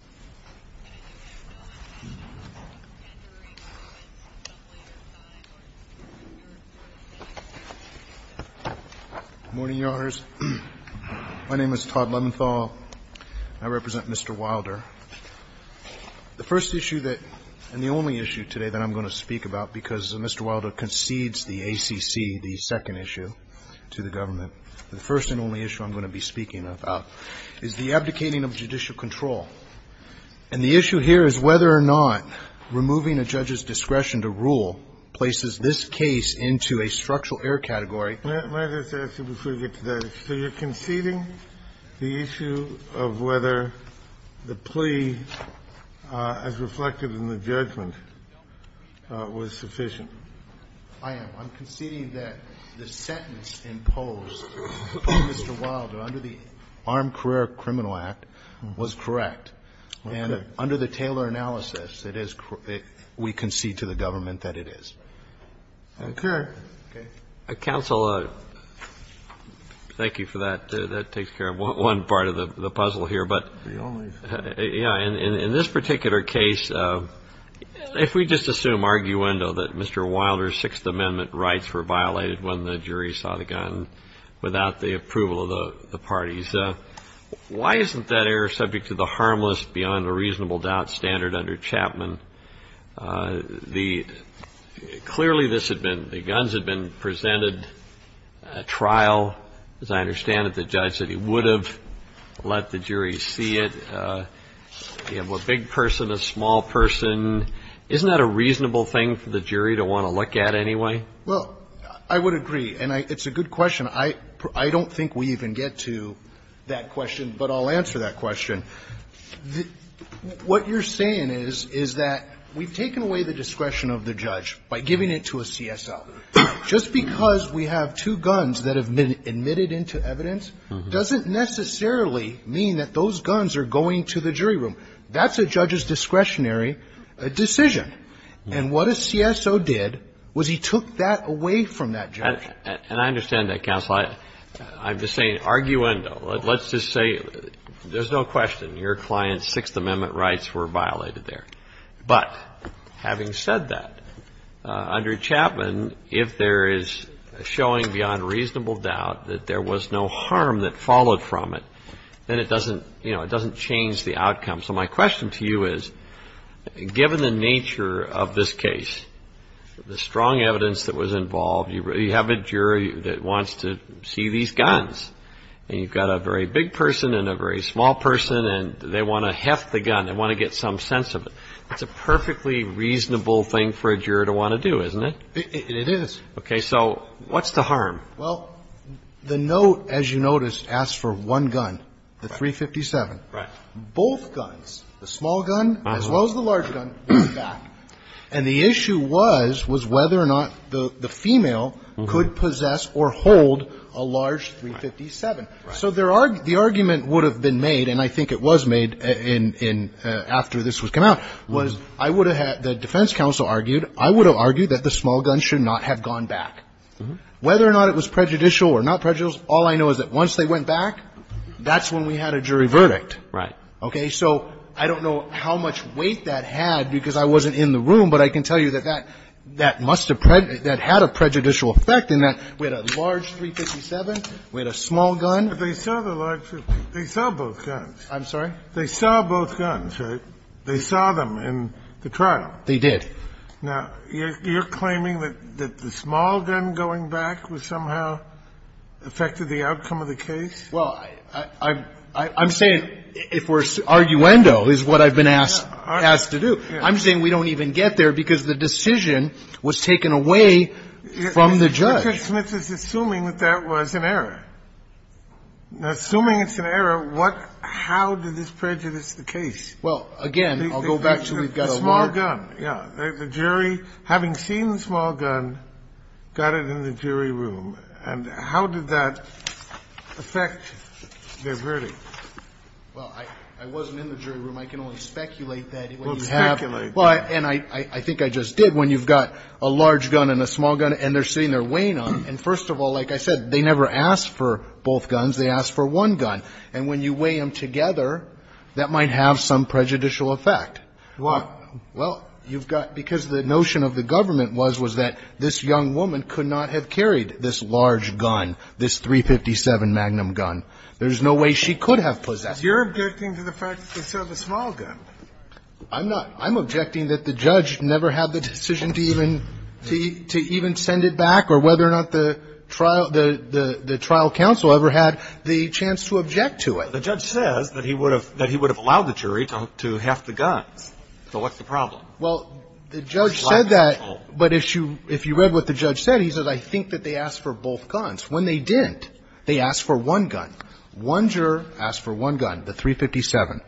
Good morning, Your Honors. My name is Todd Lementhal. I represent Mr. Wilder. The first issue that, and the only issue today that I'm going to speak about because Mr. Wilder concedes the ACC, the second issue, to the government, the first and only issue I'm going to be speaking about is the abdicating of judicial control. And the issue here is whether or not removing a judge's discretion to rule places this case into a structural error category. Kennedy Let me just ask you before we get to that issue. So you're conceding the issue of whether the plea, as reflected in the judgment, was sufficient? Wilder I am. I'm conceding that the sentence imposed by Mr. Wilder under the Armed Career Criminal Act was correct. And under the Taylor analysis, it is, we concede to the government that it is. Kennedy Okay. Counsel, thank you for that. That takes care of one part of the puzzle here. But in this particular case, if we just assume arguendo that Mr. Wilder's Sixth Amendment rights were violated when the jury saw the gun without the approval of the parties, why isn't that error subject to the harmless beyond a reasonable doubt standard under Chapman? Clearly, this had been, the guns had been presented at trial. As I understand it, the judge said he would have let the jury see it. You have a big person, a small person. Isn't that a reasonable thing for the jury to want to look at anyway? Wilder Well, I would agree. And it's a good question. I don't think we even get to that question, but I'll answer that question. What you're saying is, is that we've taken away the discretion of the judge by giving it to a CSO. And I understand that, Counsel. I'm just saying arguendo. Let's just say there's no question your client's Sixth Amendment rights were violated there. But having said that, under Chapman, if there is a showing beyond reasonable doubt that there was no harm that followed from it, then it doesn't, you know, it doesn't change the outcome. So my question to you is, given the nature of this case, the strong evidence that was involved, you have a jury that wants to see these guns. And you've got a very big person and a very small person, and they want to heft the gun. They want to get some sense of it. It's a perfectly reasonable thing for a juror to want to do, isn't it? Well, the note, as you notice, asks for one gun, the .357. Both guns, the small gun, as well as the large gun, went back. And the issue was, was whether or not the female could possess or hold a large .357. So the argument would have been made, and I think it was made after this was come out, was I would have had, the defense counsel argued, I would have argued that the small gun should not have gone back. Whether or not it was prejudicial or not prejudicial, all I know is that once they went back, that's when we had a jury verdict. Okay. So I don't know how much weight that had because I wasn't in the room, but I can tell you that that must have had a prejudicial effect in that we had a large .357, we had a small gun. But they saw the large .357. They saw both guns. I'm sorry? They saw both guns, right? They saw them in the trial. They did. Now, you're claiming that the small gun going back was somehow affected the outcome of the case? Well, I'm saying, if we're arguendo, is what I've been asked to do. I'm saying we don't even get there because the decision was taken away from the judge. Richard Smith is assuming that that was an error. Assuming it's an error, what – how did this prejudice the case? Well, again, I'll go back to we've got a large – Well, I wasn't in the jury room. I can only speculate that what you have. Well, speculate. Well, and I think I just did. When you've got a large gun and a small gun and they're sitting there weighing them, and first of all, like I said, they never asked for both guns. They asked for one gun. And when you weigh them together, that might have some prejudicial effect. Why? Well, you've got – because the notion of the government was, was that this young woman could not have carried this large gun, this .357 Magnum gun. There's no way she could have possessed it. You're objecting to the fact that it's a small gun. I'm not. I'm objecting that the judge never had the decision to even – to even send it back or whether or not the trial – the trial counsel ever had the chance to object to it. The judge says that he would have – that he would have allowed the jury to have the guns. So what's the problem? Well, the judge said that. But if you – if you read what the judge said, he said, I think that they asked for both guns. When they didn't, they asked for one gun. One juror asked for one gun, the .357.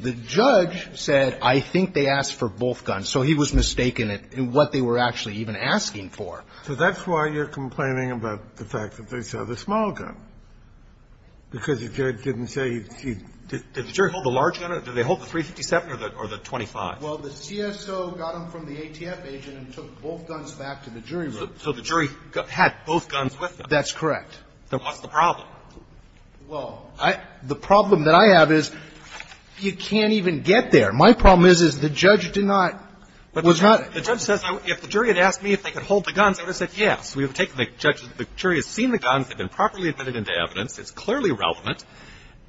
The judge said, I think they asked for both guns. So he was mistaken in what they were actually even asking for. So that's why you're complaining about the fact that they said the small gun, because the judge didn't say he – did the jury hold the large gun or did they hold the .357 or the .25? Well, the CSO got them from the ATF agent and took both guns back to the jury room. So the jury had both guns with them. That's correct. Then what's the problem? Well, I – the problem that I have is you can't even get there. My problem is, is the judge did not – was not – The judge says if the jury had asked me if they could hold the guns, I would have said yes. We would have taken the judge – the jury has seen the guns, they've been properly admitted into evidence, it's clearly relevant.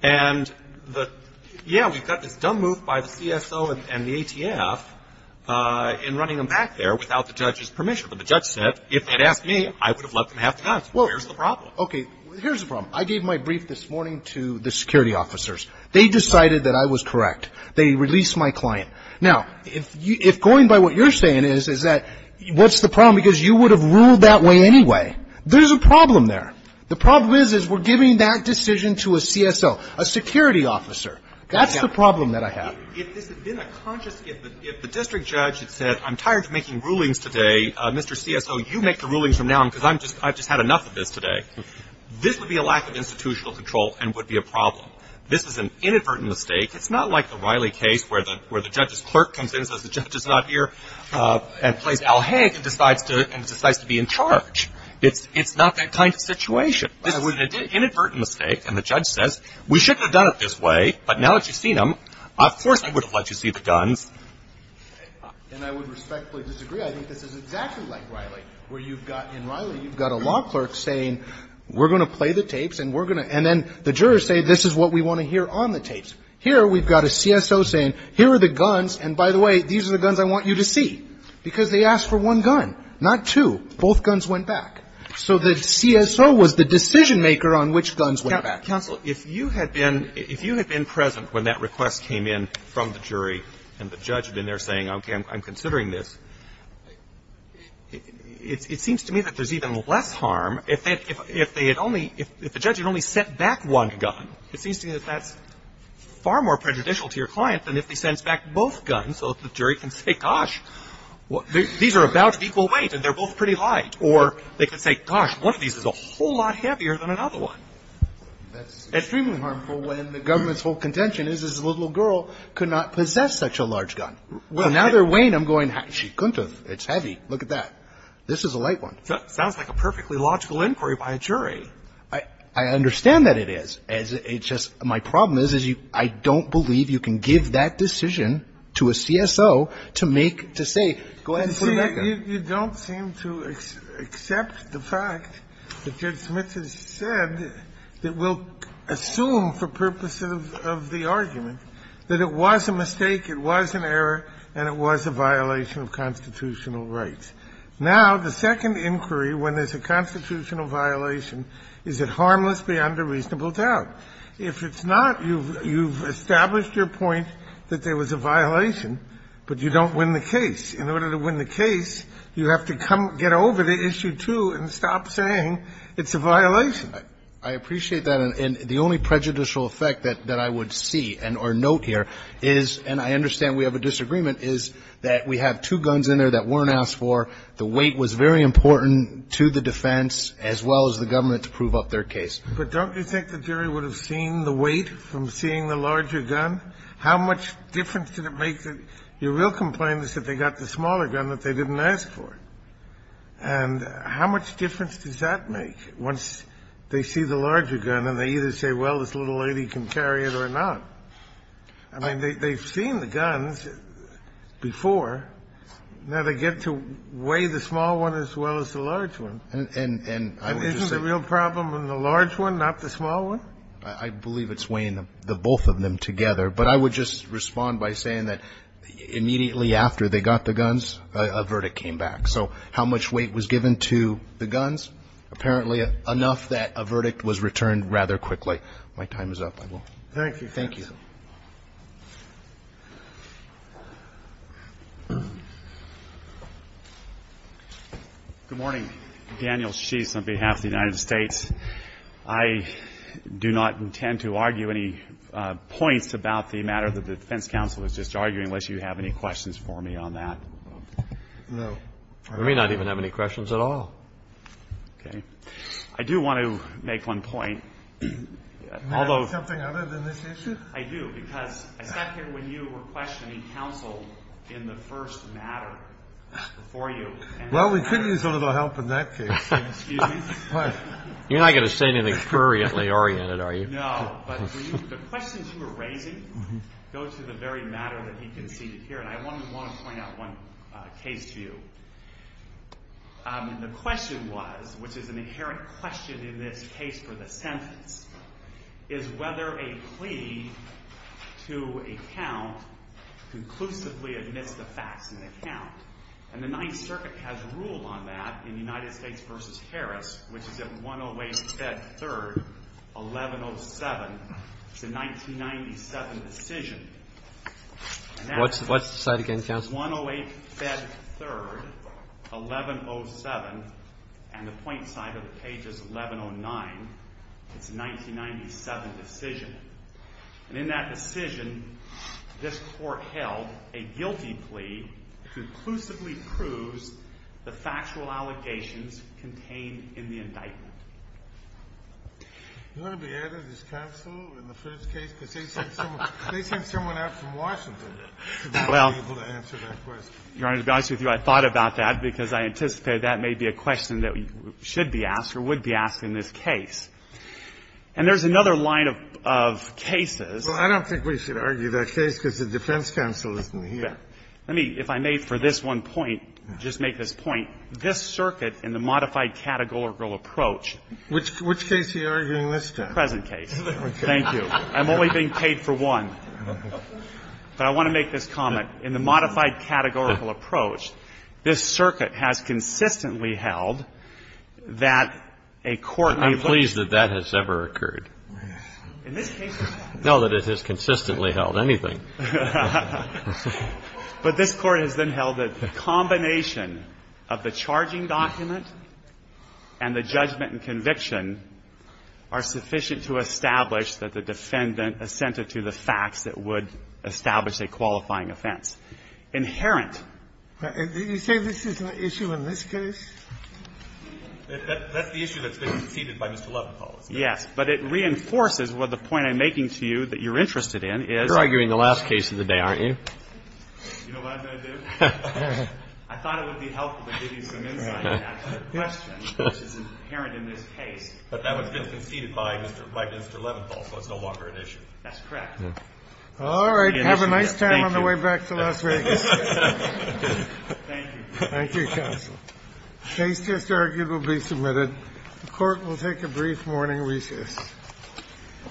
And the – yeah, we've got this dumb move by the CSO and the ATF in running them back there without the judge's permission. But the judge said if they'd asked me, I would have let them have the guns. Well, here's the problem. Okay, here's the problem. I gave my brief this morning to the security officers. They decided that I was correct. They released my client. Now, if going by what you're saying is, is that – what's the problem? Because you would have ruled that way anyway. There's a problem there. The problem is, is we're giving that decision to a CSO, a security officer. That's the problem that I have. If this had been a conscious – if the district judge had said, I'm tired of making rulings today, Mr. CSO, you make the rulings from now on, because I'm just – I've just had enough of this today, this would be a lack of institutional control and would be a problem. This is an inadvertent mistake. It's not like the Riley case where the judge's clerk comes in, says the judge is not here, and plays Al Haig and decides to be in charge. It's not that kind of situation. This is an inadvertent mistake. And the judge says, we shouldn't have done it this way, but now that you've seen them, of course I would have let you see the guns. And I would respectfully disagree. I think this is exactly like Riley, where you've got – in Riley, you've got a law clerk saying, we're going to play the tapes and we're going to – and then the jurors say, this is what we want to hear on the tapes. Here, we've got a CSO saying, here are the guns, and by the way, these are the guns I want you to see, because they asked for one gun, not two. Both guns went back. So the CSO was the decision-maker on which guns went back. Counsel, if you had been – if you had been present when that request came in from the jury, and the judge had been there saying, okay, I'm considering this, it seems to me that there's even less harm if they – if they had only – if the judge had only sent back one gun. It seems to me that that's far more prejudicial to your client than if he sends back both guns, so the jury can say, gosh, these are about equal weight and they're both pretty light, or they could say, gosh, one of these is a whole lot heavier than another one. That's extremely harmful when the government's whole contention is this little girl could not possess such a large gun. Well, now they're weighing them going, she couldn't have. It's heavy. Look at that. This is a light one. Sounds like a perfectly logical inquiry by a jury. I understand that it is. It's just my problem is, is you – I don't believe you can give that decision to a CSO to make – to say, go ahead and put it back in. You don't seem to accept the fact that Judge Smith has said that we'll assume for purposes of the argument that it was a mistake, it was an error, and it was a violation of constitutional rights. Now, the second inquiry, when there's a constitutional violation, is it harmless beyond a reasonable doubt? If it's not, you've established your point that there was a violation, but you don't win the case. In order to win the case, you have to come – get over the issue, too, and stop saying it's a violation. I appreciate that, and the only prejudicial effect that I would see and or note here is – and I understand we have a disagreement – is that we have two guns in there that weren't asked for, the weight was very important to the defense as well as the government to prove up their case. But don't you think the jury would have seen the weight from seeing the larger gun? How much difference did it make? Your real complaint is that they got the smaller gun that they didn't ask for. And how much difference does that make once they see the larger gun and they either say, well, this little lady can carry it or not? I mean, they've seen the guns before. Now, they get to weigh the small one as well as the large one. And isn't the real problem in the large one, not the small one? I believe it's weighing the both of them together. But I would just respond by saying that immediately after they got the guns, a verdict came back. So how much weight was given to the guns? Apparently, enough that a verdict was returned rather quickly. My time is up, I will. Thank you. Thank you. Good morning. Daniel Sheets on behalf of the United States. I do not intend to argue any points about the matter that the defense counsel is just arguing, unless you have any questions for me on that. No. We may not even have any questions at all. Okay. I do want to make one point. Can I ask something other than this issue? I do, because I sat here when you were questioning counsel in the first matter before you. Well, we could use a little help in that case. Excuse me? What? You're not going to say anything currently oriented, are you? No. But the questions you were raising go to the very matter that he conceded here. And I want to point out one case to you. The question was, which is an inherent question in this case for the sentence, is whether a plea to a count conclusively admits the facts in the count. And the Ninth Circuit has a rule on that in the United States versus Harris, which is at 108-Fed-3rd-1107, it's a 1997 decision. What's the site again, counsel? 108-Fed-3rd-1107, and the point side of the page is 1109, it's a 1997 decision. And in that decision, this Court held a guilty plea conclusively proves the factual allegations contained in the indictment. You want to be added as counsel in the first case, because they sent someone out from Washington to be able to answer that question. Well, Your Honor, to be honest with you, I thought about that, because I anticipated that may be a question that should be asked or would be asked in this case. And there's another line of cases. Well, I don't think we should argue that case, because the defense counsel isn't here. Let me, if I may, for this one point, just make this point. This Circuit, in the modified categorical approach. Which case are you arguing this time? Present case. Thank you. I'm only being paid for one. But I want to make this comment. In the modified categorical approach, this Circuit has consistently held that a court has held that the defendant assented to the facts that would establish a qualifying offense. I'm pleased that that has ever occurred. In this case, no, that it has consistently held anything. But this Court has then held that the combination of the charging document and the judgment and conviction are sufficient to establish that the defendant assented to the facts that would establish a qualifying offense. Inherent. You say this is not an issue in this case? That's the issue that's been conceded by Mr. Leventhal. Yes. But it reinforces what the point I'm making to you that you're interested in is you're arguing the last case of the day, aren't you? You know what I'm going to do? I thought it would be helpful to give you some insight and ask a question, which is inherent in this case. But that one's been conceded by Mr. Leventhal, so it's no longer an issue. That's correct. All right. Have a nice time on the way back to Las Vegas. Thank you, counsel. The case just argued will be submitted. The Court will take a brief morning recess.